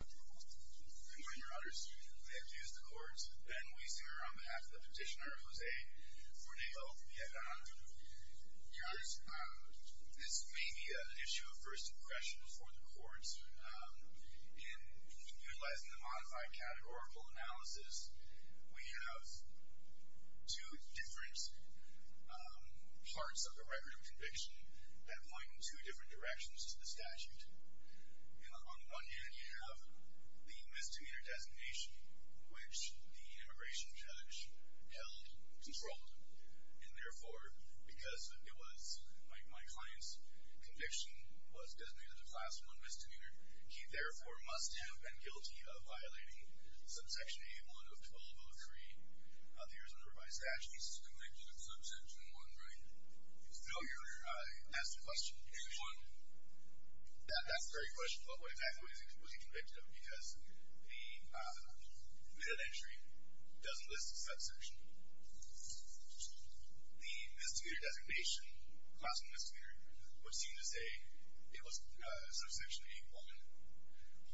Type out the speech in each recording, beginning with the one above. Good morning, Your Honors. The accused in court, Ben Weisinger, on behalf of the petitioner, Jose Cornejo-Villagrana. Your Honors, this may be an issue of first impression for the courts. In utilizing the modified categorical analysis, we have two different parts of the record of conviction that point in two different directions to the statute. On one hand, you have the misdemeanor designation, which the immigration judge held controlled. And therefore, because it was my client's conviction was designated to Class I misdemeanor, he therefore must have been guilty of violating Subsection A1 of 1203 of the Arizona Provided Statute. He's convicted of Subsection I, right? I asked a question. That's a great question. What exactly was he convicted of? Because the admitted entry doesn't list the subsection. The misdemeanor designation, Class I misdemeanor, would seem to say it was Subsection A1.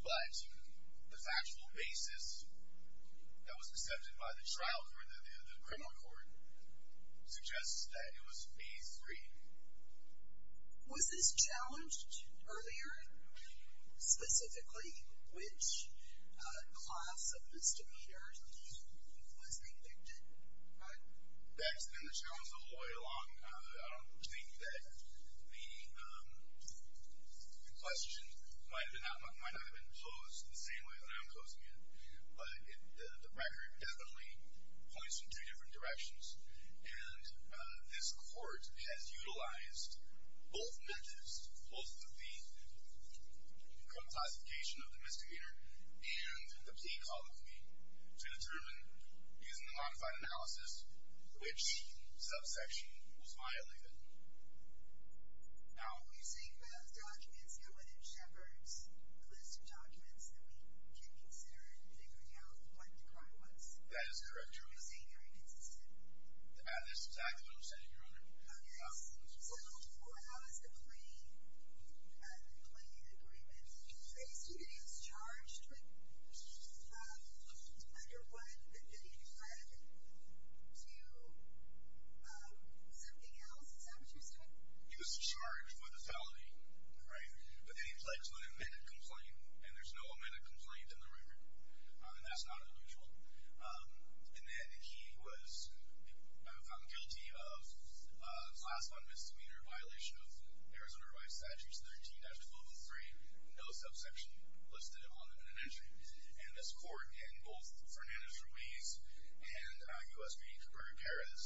But the factual basis that was accepted by the trial court, the criminal court, suggests that it was A3. Was this challenged earlier? Specifically, which class of misdemeanor he was convicted? That's been the challenge all the way along. I don't think that the question might not have been posed the same way that I'm posing it. But the record definitely points in two different directions. And this court has utilized both methods, both of the criminal classification of the misdemeanor and the plea colloquy to determine, using the modified analysis, which subsection was violated. Now, are you saying that the documents, the evidence, records, the list of documents that we can consider in figuring out what the crime was? That is correct. So you're saying you're inconsistent? That is exactly what I'm saying, Your Honor. Okay. So how is the plea agreement? Are you saying that he was charged with violations under 1 and then he fled to something else? Is that what you're saying? He was charged with a felony, right? But then he fled to an amended complaint, and there's no amended complaint in the record. And that's not unusual. And then he was found guilty of Class 1 misdemeanor, violation of Arizona Revised Statutes 13-203, no subsection listed on them in an entry. And this court, in both Fernandez-Ruiz and U.S. v. Cabrera-Perez,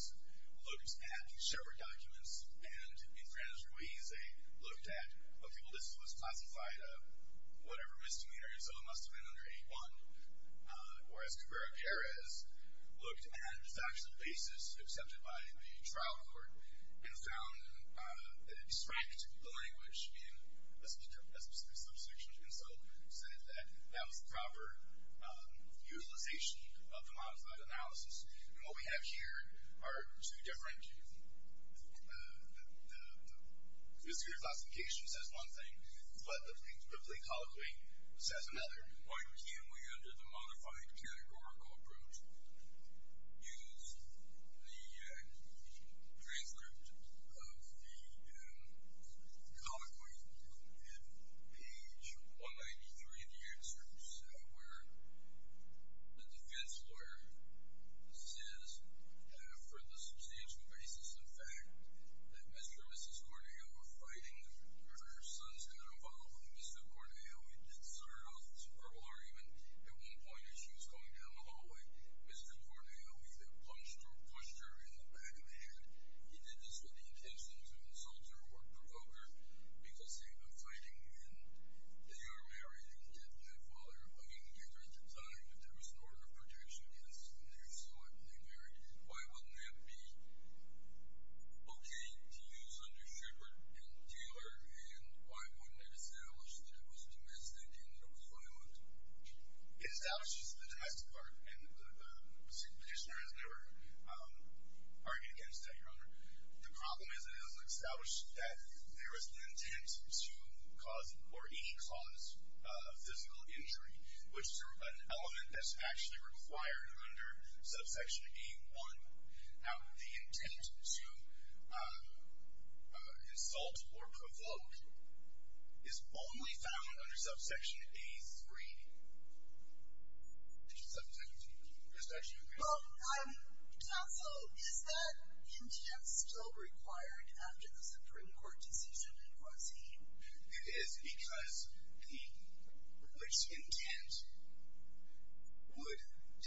looked at the Sherwood documents. And in Fernandez-Ruiz, they looked at a people who was classified whatever misdemeanor, so it must have been under 8-1. Whereas Cabrera-Perez looked at the actual basis accepted by the trial court and found that it distracted the language in a specific subsection. And so he said that that was the proper utilization of the modified analysis. And what we have here are two different – the misdemeanor classification says one thing, but the prescript of the colloquy says another. Why can't we, under the modified categorical approach, use the transcript of the colloquy in page 193 of the excerpts, where the defense lawyer says for the substantial basis, in fact, that Mr. and Mrs. Corneille were fighting and her son's got involved, and Mr. Corneille inserted a superlative argument at one point as she was going down the hallway. Mr. Corneille either punched or pushed her in the back of the head. He did this with the intention to insult her or provoke her because they had been fighting, and they are married and didn't have father and mother together at the time, but there was an order of protection against them there, so they married. Why wouldn't that be okay to use under Shepard and Taylor, and why wouldn't it establish that it was domestic and it was violent? It establishes the domestic part, and the petitioner has never argued against that, Your Honor. The problem is it doesn't establish that there was an intent to cause or cause physical injury, which is an element that's actually required under subsection A-1. Now, the intent to insult or provoke is only found under subsection A-3. Did you just have a second? Well, I'm not sure. Is that intent still required after the Supreme Court decision, and was he? It is because the which intent would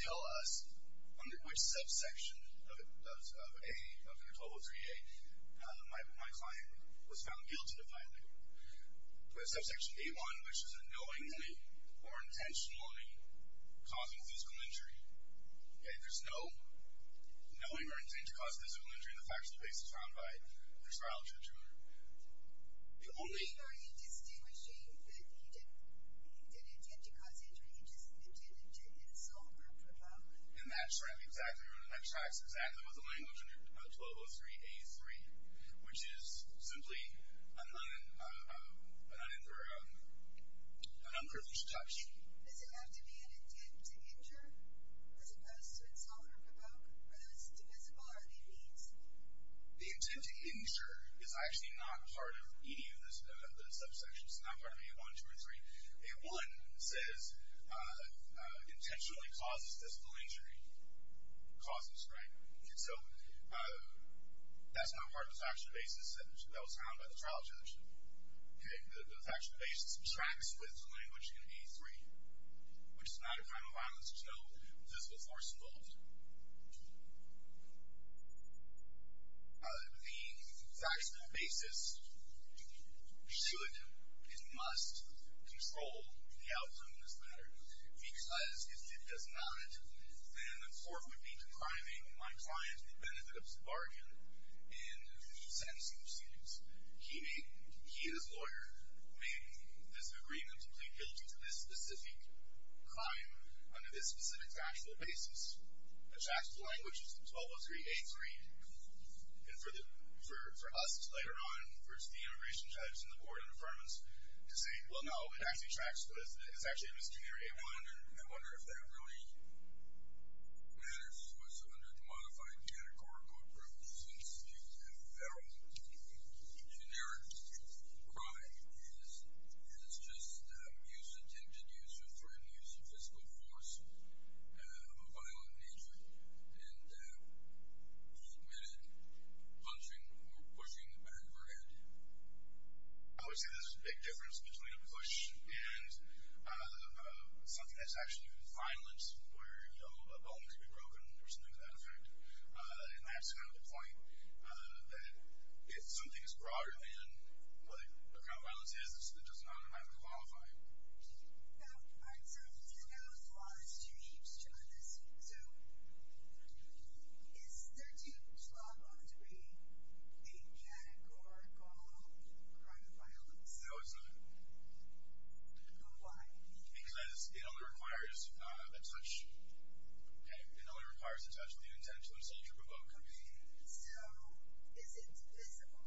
tell us under which subsection of A, under 1203-A, my client was found guilty of violence. We have subsection A-1, which is a knowingly or intentionally causing physical injury. There's no knowing or intent to cause physical injury in the facts of the case Are you distinguishing the need and intent to cause injury, just the intent to insult or provoke? And that's right, Your Honor. That tracks exactly with the language under 1203-A-3, which is simply an unearthly structure. Does it have to be an intent to injure as opposed to insult or provoke, or those divisible are they means? The intent to injure is actually not part of any of the subsections. It's not part of A-1, 2, or 3. A-1 says intentionally causes physical injury. Causes, right? So that's not part of the factual basis that was found by the trial judge. The factual basis tracks with the language in A-3, which is not a crime of violence. There's no physical force involved. The factual basis should and must control the outcome of this matter, because if it does not, then the court would be depriving my client the benefit of the bargain and the sentencing proceedings. He and his lawyer made this agreement to plead guilty to this specific crime under this specific factual basis. It tracks the language in 1203-A-3, and for us later on, for the immigration judge and the board of the firm to say, well, no, it actually tracks with, it's actually in misdemeanor A-1, and I wonder if that really matters. This was under the modified categorical approach since the federal generic crime is just use, attempted use, or threatened use of physical force of violent nature, and he admitted punching or pushing the back of her head. I would say there's a big difference between a push and something that's actually violence where a bone can be broken or something to that effect, and that's kind of the point, that if something is broader than what a crime of violence is, it does not have to qualify. All right. So you said there was laws changed on this. So is 1312-A-3 a categorical crime of violence? No, it's not. Why? Because it only requires a touch. Okay? It only requires a touch with the intent to insult or provoke. Okay. So is it divisible?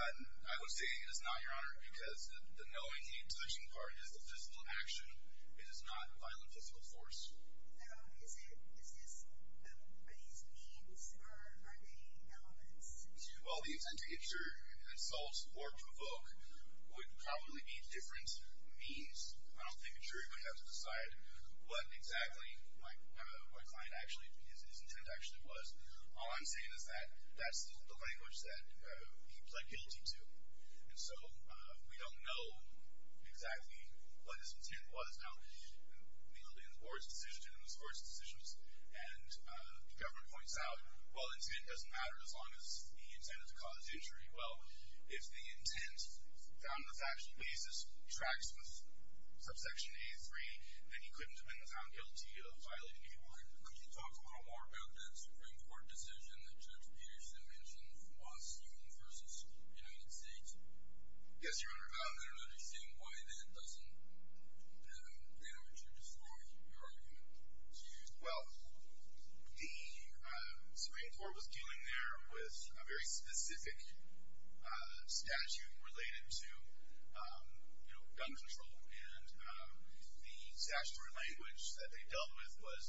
I would say it is not, Your Honor, because the knowing and touching part is the physical action. It is not violent physical force. No. Is this, are these means or are they elements? Well, the intent to insult or provoke would probably be different means. I don't think a jury would have to decide what exactly my client actually, his intent actually was. All I'm saying is that that's the language that he pled guilty to, and so we don't know exactly what his intent was. Now, we know that in the board's decisions, and the government points out, well, the intent doesn't matter as long as the intent is to cause injury. Well, if the intent found on a factual basis tracks subsection A-3, then he couldn't have been found guilty of violating a board. Could you talk a little more about that Supreme Court decision that Judge Peterson mentioned was U.N. v. United States? I guess you're under government, I don't understand why that doesn't damage or destroy your argument. Well, the Supreme Court was dealing there with a very specific statute related to, you know, gun control, and the statutory language that they dealt with was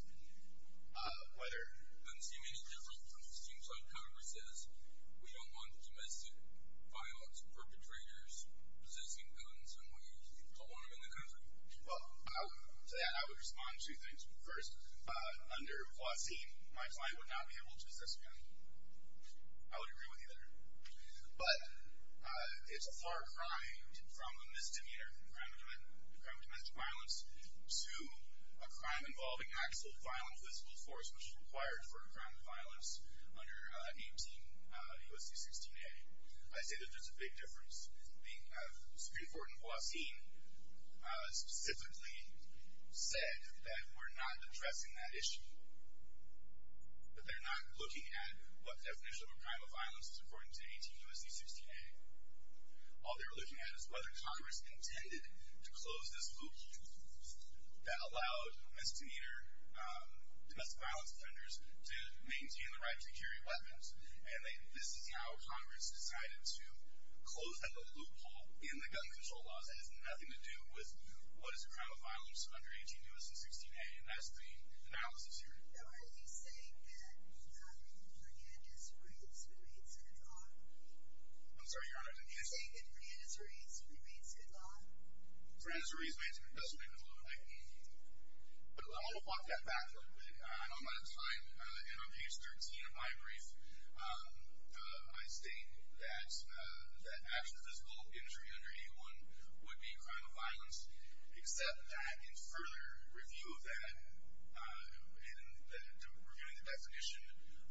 whether... It doesn't seem any different from what it seems like Congress says. We don't want domestic violence, perpetrators, possessing weapons, and we don't want them in the country. Well, to that I would respond to two things. First, under Huacin, my client would not be able to assess a gun. I would agree with you there. But it's a far crime from a misdemeanor, a crime of domestic violence, to a crime involving actual violent physical force, which is required for a crime of violence under 18 U.S.C. 16a. I say that there's a big difference. The Supreme Court in Huacin specifically said that we're not addressing that issue. But they're not looking at what definition of a crime of violence is according to 18 U.S.C. 16a. All they're looking at is whether Congress intended to close this loophole that allowed misdemeanor domestic violence offenders to maintain the right to carry weapons, and this is how Congress decided to close that loophole in the gun control laws. That has nothing to do with what is a crime of violence under 18 U.S.C. 16a, and that's the analysis here. Now, are you saying that not even Fernandez-Reeds remains good law? I'm sorry, Your Honor. Are you saying that Fernandez-Reeds remains good law? Fernandez-Reeds does remain good law. But I want to walk that back a little bit. I'm out of time, and on page 13 of my brief, I state that actual physical injury under 18.1 would be a crime of violence, except that in further review of that, in reviewing the definition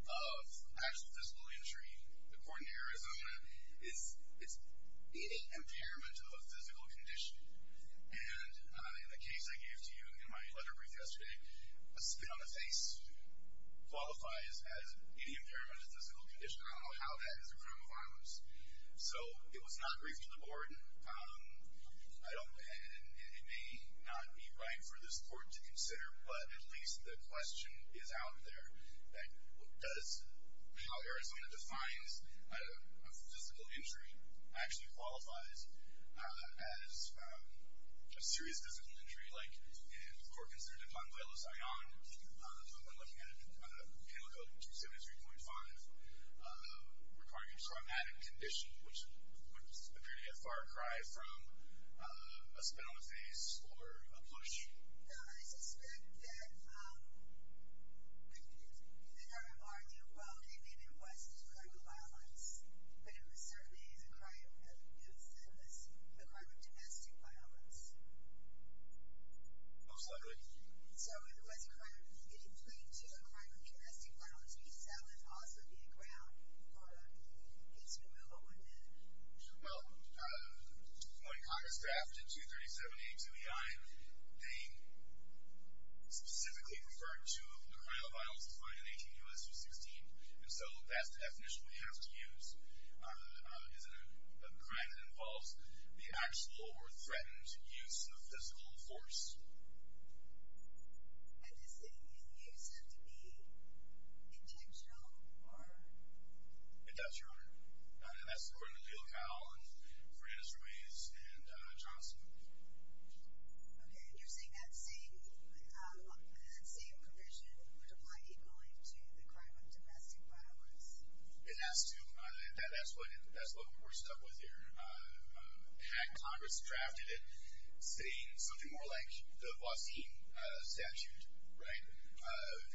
of actual physical injury, according to Arizona, it's impairment of a physical condition. And in the case I gave to you in my letter brief yesterday, a spit on the face qualifies as any impairment of physical condition. I don't know how that is a crime of violence. So it was not briefed to the board, and it may not be right for this court to consider, but at least the question is out there that does how Arizona defines a physical injury actually qualifies as a serious physical injury, like in the court considered a crime of violence. So I'm not looking at it. It may look like 273.5, requiring a traumatic condition, which would appear to be a far cry from a spit on the face or a push. I suspect that the NRO argued, well, okay, maybe it was a crime of violence, but it was certainly a crime of domestic violence. Most likely. So it was a crime of domestic violence, which would also be a ground for its removal, wouldn't it? Well, according to Congress draft in 237.82 EI, they specifically referred to a crime of violence defined in 18 U.S. v. 16, and so that's the definition we have to use. Is it a crime that involves the actual or threatened use of physical force? And is it being used to be intentional or? It does, Your Honor. And that's according to Gil Powell and Franis Ruiz and Johnson. Okay. And you're saying that same provision would apply equally to the crime of domestic violence? It has to. That's what we're stuck with here. Had Congress drafted it saying something more like the Bossie statute, right,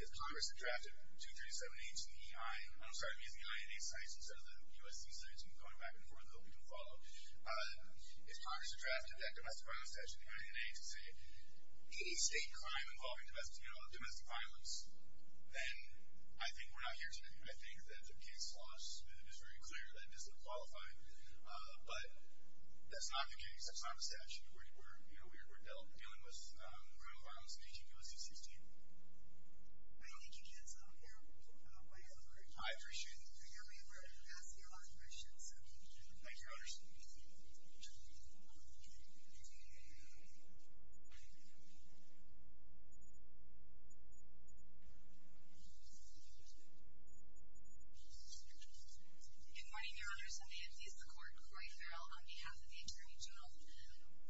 if Congress had drafted 237.82 EI, I'm sorry, the EI and A sites instead of the U.S. v. 16 going back and forth, we don't follow. If Congress had drafted that domestic violence statute, EI and A, to say any state crime involving domestic violence, then I think we're not here to do that. I think that the case law is very clear that it doesn't qualify, but that's not the case. That's not the statute. We're dealing with criminal violence in 18 U.S. v. 16. I think you get some of your way forward. I appreciate it. I know we were asking a lot of questions. Thank you. Good morning, Your Honor. My name is Kirsten Nantes. The court is Roy Farrell on behalf of the Attorney General.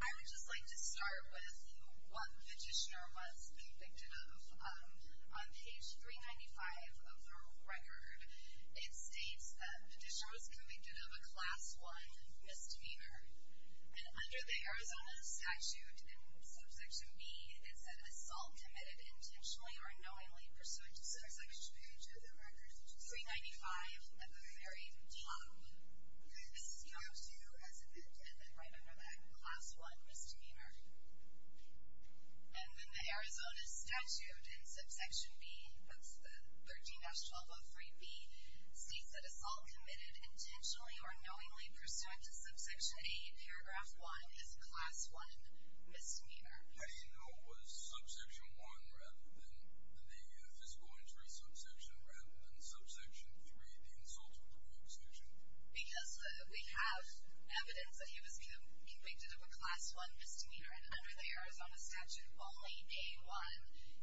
I would just like to start with what Petitioner was convicted of. On page 395 of the record, it states that Petitioner was convicted of a Class I misdemeanor. And under the Arizona statute, in subject to me is an assault committed intentionally or unknowingly pursuant to Subsection H of the record, page 395 at the very top. This is C.R. 2 as an end, and then right under that, Class I misdemeanor. And then the Arizona statute in Subsection B, that's the 13-1203B, states that assault committed intentionally or unknowingly pursuant to Subsection A, Paragraph 1, is Class I misdemeanor. So you know it was Subsection I rather than, if it's going to be Subsection I rather than Subsection III, the insult or the misdemeanor? Because we have evidence that he was convicted of a Class I misdemeanor, and under the Arizona statute, only A1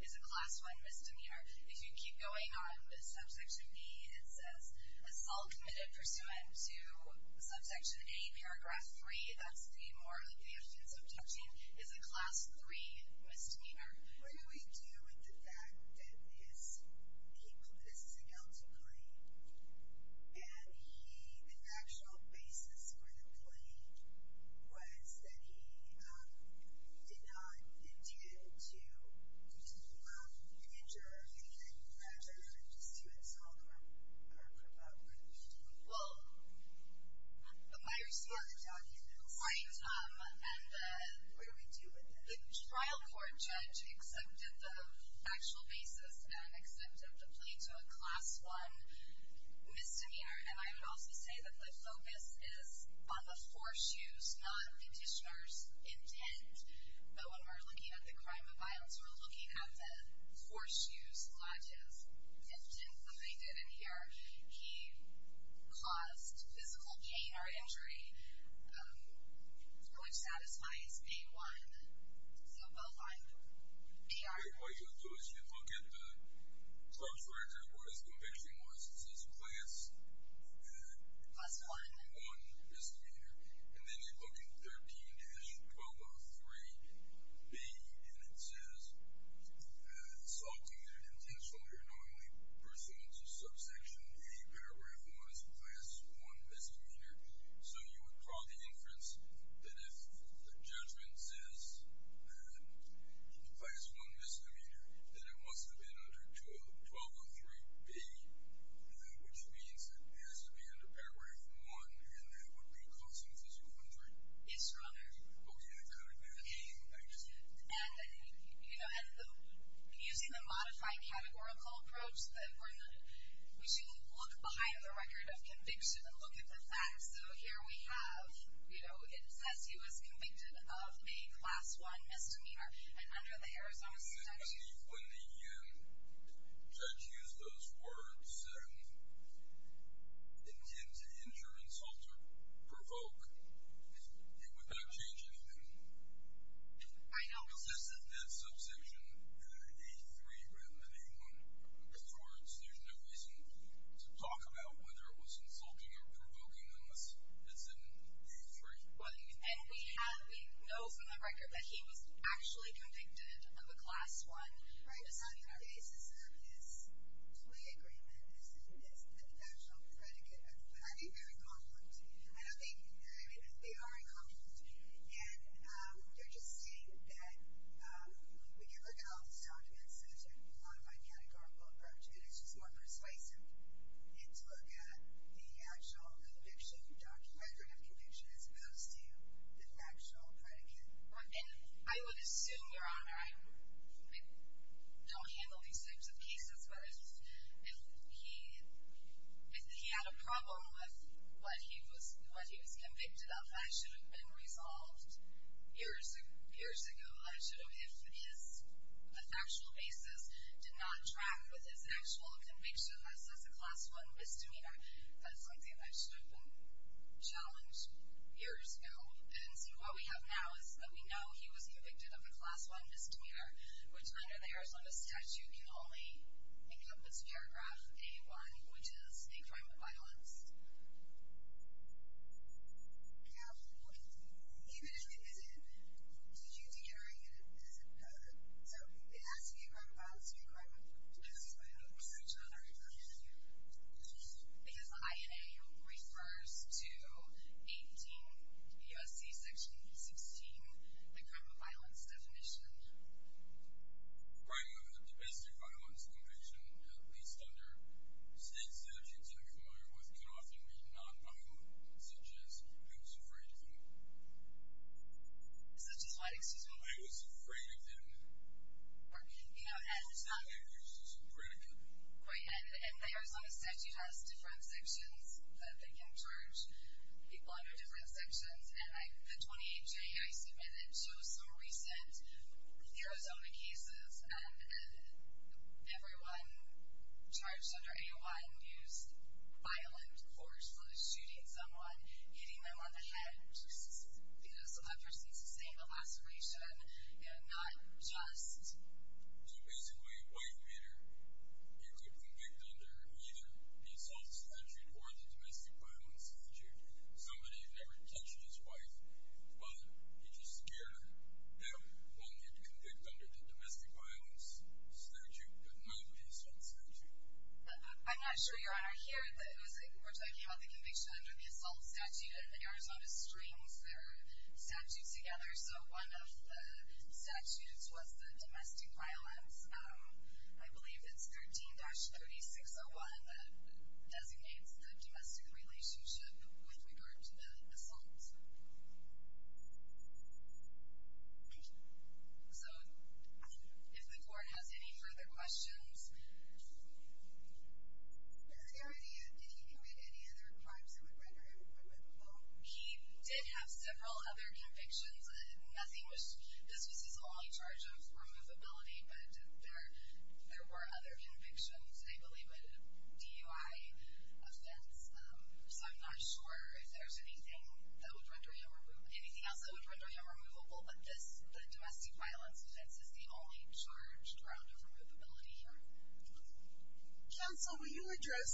is a Class I misdemeanor. If you keep going on to Subsection B, it says assault committed pursuant to Subsection A, Paragraph 3, that's the more offensive touching, is a Class III misdemeanor. What do we do with the fact that he put a signal to Clay, and he, an actual basis for the Clay, was that he did not intend to harm, injure, or anything like that, just to exalt or promote what he was doing? Well, my response, I'll give you a second. And what do we do with that? The trial court judge accepted the actual basis and accepted the Clay to a Class I misdemeanor, and I would also say that the focus is on the foreshoes, not the petitioner's intent. But when we're looking at the crime of violence, we're looking at the foreshoes, lodges, intents that they did in here. He caused physical pain or injury, which satisfies B-1, so both are B-1. What you'll do is you look at the clerk's record, what his conviction was, it says Class I misdemeanor, and then you look at 13-1203B, and it says assault committed intentional or not only pursuant to Subsection A, Paragraph I, Class I misdemeanor. So you would draw the inference that if the judgment says that Class I misdemeanor, then it must have been under 1203B, which means it has to be under Paragraph I, and that would be causing physical injury. It's runner. Okay, I got it. And using the modified categorical approach, we're saying we look behind the record of conviction and look at the facts. So here we have, you know, it says he was convicted of a Class I misdemeanor and under the Arizona statute. When the judge used those words, intent to injure, insult, or provoke, it would not change anything. I know. This is that Subsection A3, rather than A1. In other words, there's no reason to talk about whether it was insulting or provoking unless it's in A3. Right, and we know from the record that he was actually convicted of a Class I misdemeanor. Right, so on the basis of this plea agreement, this confidential predicate, I'd be very confident. I don't think you'd be very, but they are in confidence. And you're just seeing that when you look at all these documents, there's a modified categorical approach, and it's just more persuasive. It's look at the actual conviction, document of conviction as opposed to the factual predicate. Right, and I would assume, Your Honor, I don't handle these types of cases, but if he had a problem with what he was convicted of, that should have been resolved years ago. If his factual basis did not track with his actual conviction as a Class I misdemeanor, that's something that should have been challenged years ago. And so what we have now is that we know he was convicted of a Class I misdemeanor, which under the Arizona statute can only make up this paragraph, A1, which is a crime of violence. I have one. Even if it isn't, did you declare it as a crime? So it has to be a crime of violence or a crime of domestic violence, which I'm not very familiar with. Because INA refers to 18 U.S.C. Section 16, the crime of violence definition. Right, the Domestic Violence Conviction, at least under state statutes I'm familiar with, can often be non-violent, such as, I was afraid of him. Such as what, excuse me? I was afraid of him. You know, and it's not... I was afraid of him. Right, and the Arizona statute has different sections that they can charge people under different sections, and the 28-J, I submit, that shows some recent Arizona cases, and everyone charged under A1 used violent force, whether it's shooting someone, hitting them on the head, just because a person sustained a laceration, you know, not just... So basically, a white waiter, you could convict under either the assault statute or the domestic violence statute. Somebody never touched his wife, but he just scared her. So you can convict under the domestic violence statute, but not the assault statute. I'm not sure, Your Honor. Here, we're talking about the conviction under the assault statute, and Arizona strings their statutes together, so one of the statutes was the domestic violence. I believe it's 13-3601 that designates the domestic relationship with regard to the assault. Thank you. So if the court has any further questions... Is there any... Did he commit any other crimes that would render him removable? He did have several other convictions. Nothing was... This was his only charge of removability, but there were other convictions. I believe a DUI offense. So I'm not sure if there's anything that would render him... Anything else that would render him removable, but this, the domestic violence offense, is the only charge around his removability. Counsel, will you address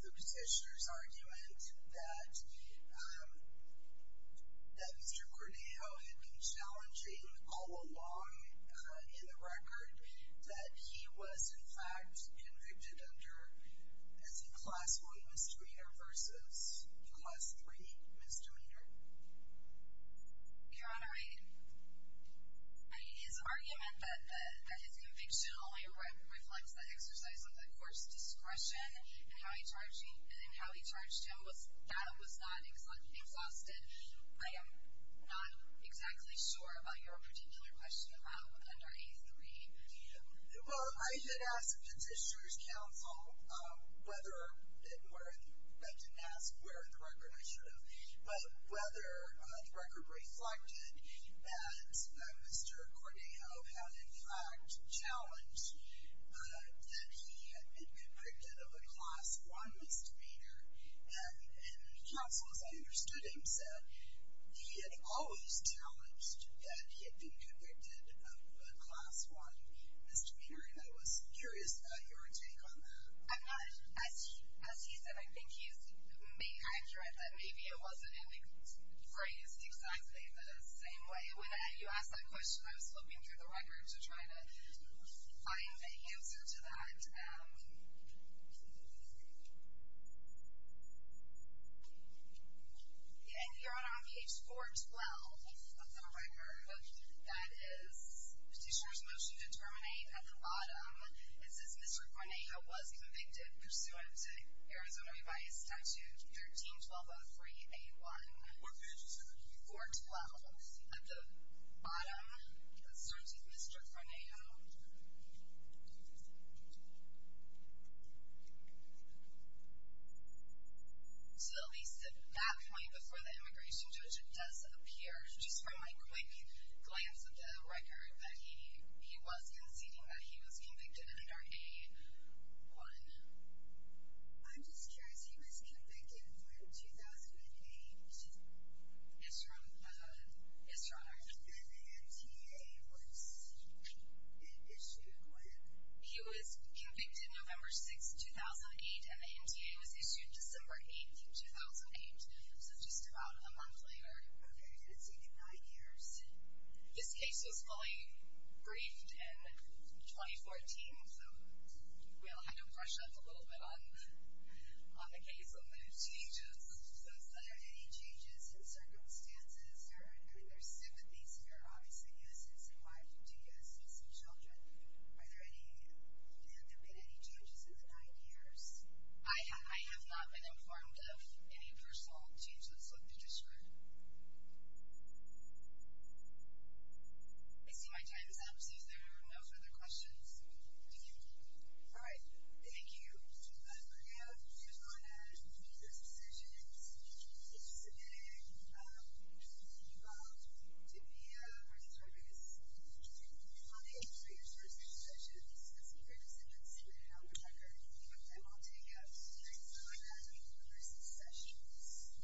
the petitioner's argument that... that Mr. Cornejo had been challenging all along convicted under, I think, Class I misdemeanor versus Class III misdemeanor? Your Honor, I... I mean, his argument that his conviction only reflects that exercise of the court's discretion and how he charged him, that was not exhausted. I am not exactly sure about your particular question about under A3. Well, I did ask the petitioner's counsel whether it were... I didn't ask where in the record I should have, but whether the record reflected that Mr. Cornejo had, in fact, challenged that he had been convicted of a Class I misdemeanor. And counsel, as I understood him, said he had always challenged that he had been convicted of a Class I misdemeanor, and I was curious about your take on that. I'm not... As he said, I think he's being accurate that maybe it wasn't in the phrase exactly the same way. When you asked that question, I was looking through the record to try to find the answer to that. Yeah, and Your Honor, on page 412 of the record, that is Petitioner's Motion to Terminate at the bottom, it says Mr. Cornejo was convicted pursuant to Arizona Revised Statute 13-1203-A1. What page is that? 412. At the bottom, it starts with Mr. Cornejo. So at least at that point, before the immigration judge does appear, just from a quick glance at the record, that he was conceding that he was convicted under A1. I'm just curious, he was convicted when? 2008? Yes, Your Honor. And the MTA was issued when? He was convicted November 6, 2008, and the MTA was issued December 8, 2008, so just about a month later. Okay, so it's taken nine years. This case was fully briefed in 2014, so we'll kind of brush up a little bit on the case, on the changes. It says, are there any changes in circumstances? There's sympathies here, obviously, yes, and some wives, and yes, and some children. Have there been any changes in the nine years? I have not been informed of any personal changes with Petitioner. I see my time is up, so there are no further questions. Thank you. All right, thank you. Your Honor, we've come to the end of this session. Thank you for participating. We hope you found it to be worth your wait, and we look forward to hearing from you for your future sessions. If you have any further questions, please let me know, which I will take up. Thank you for having me for the rest of the session.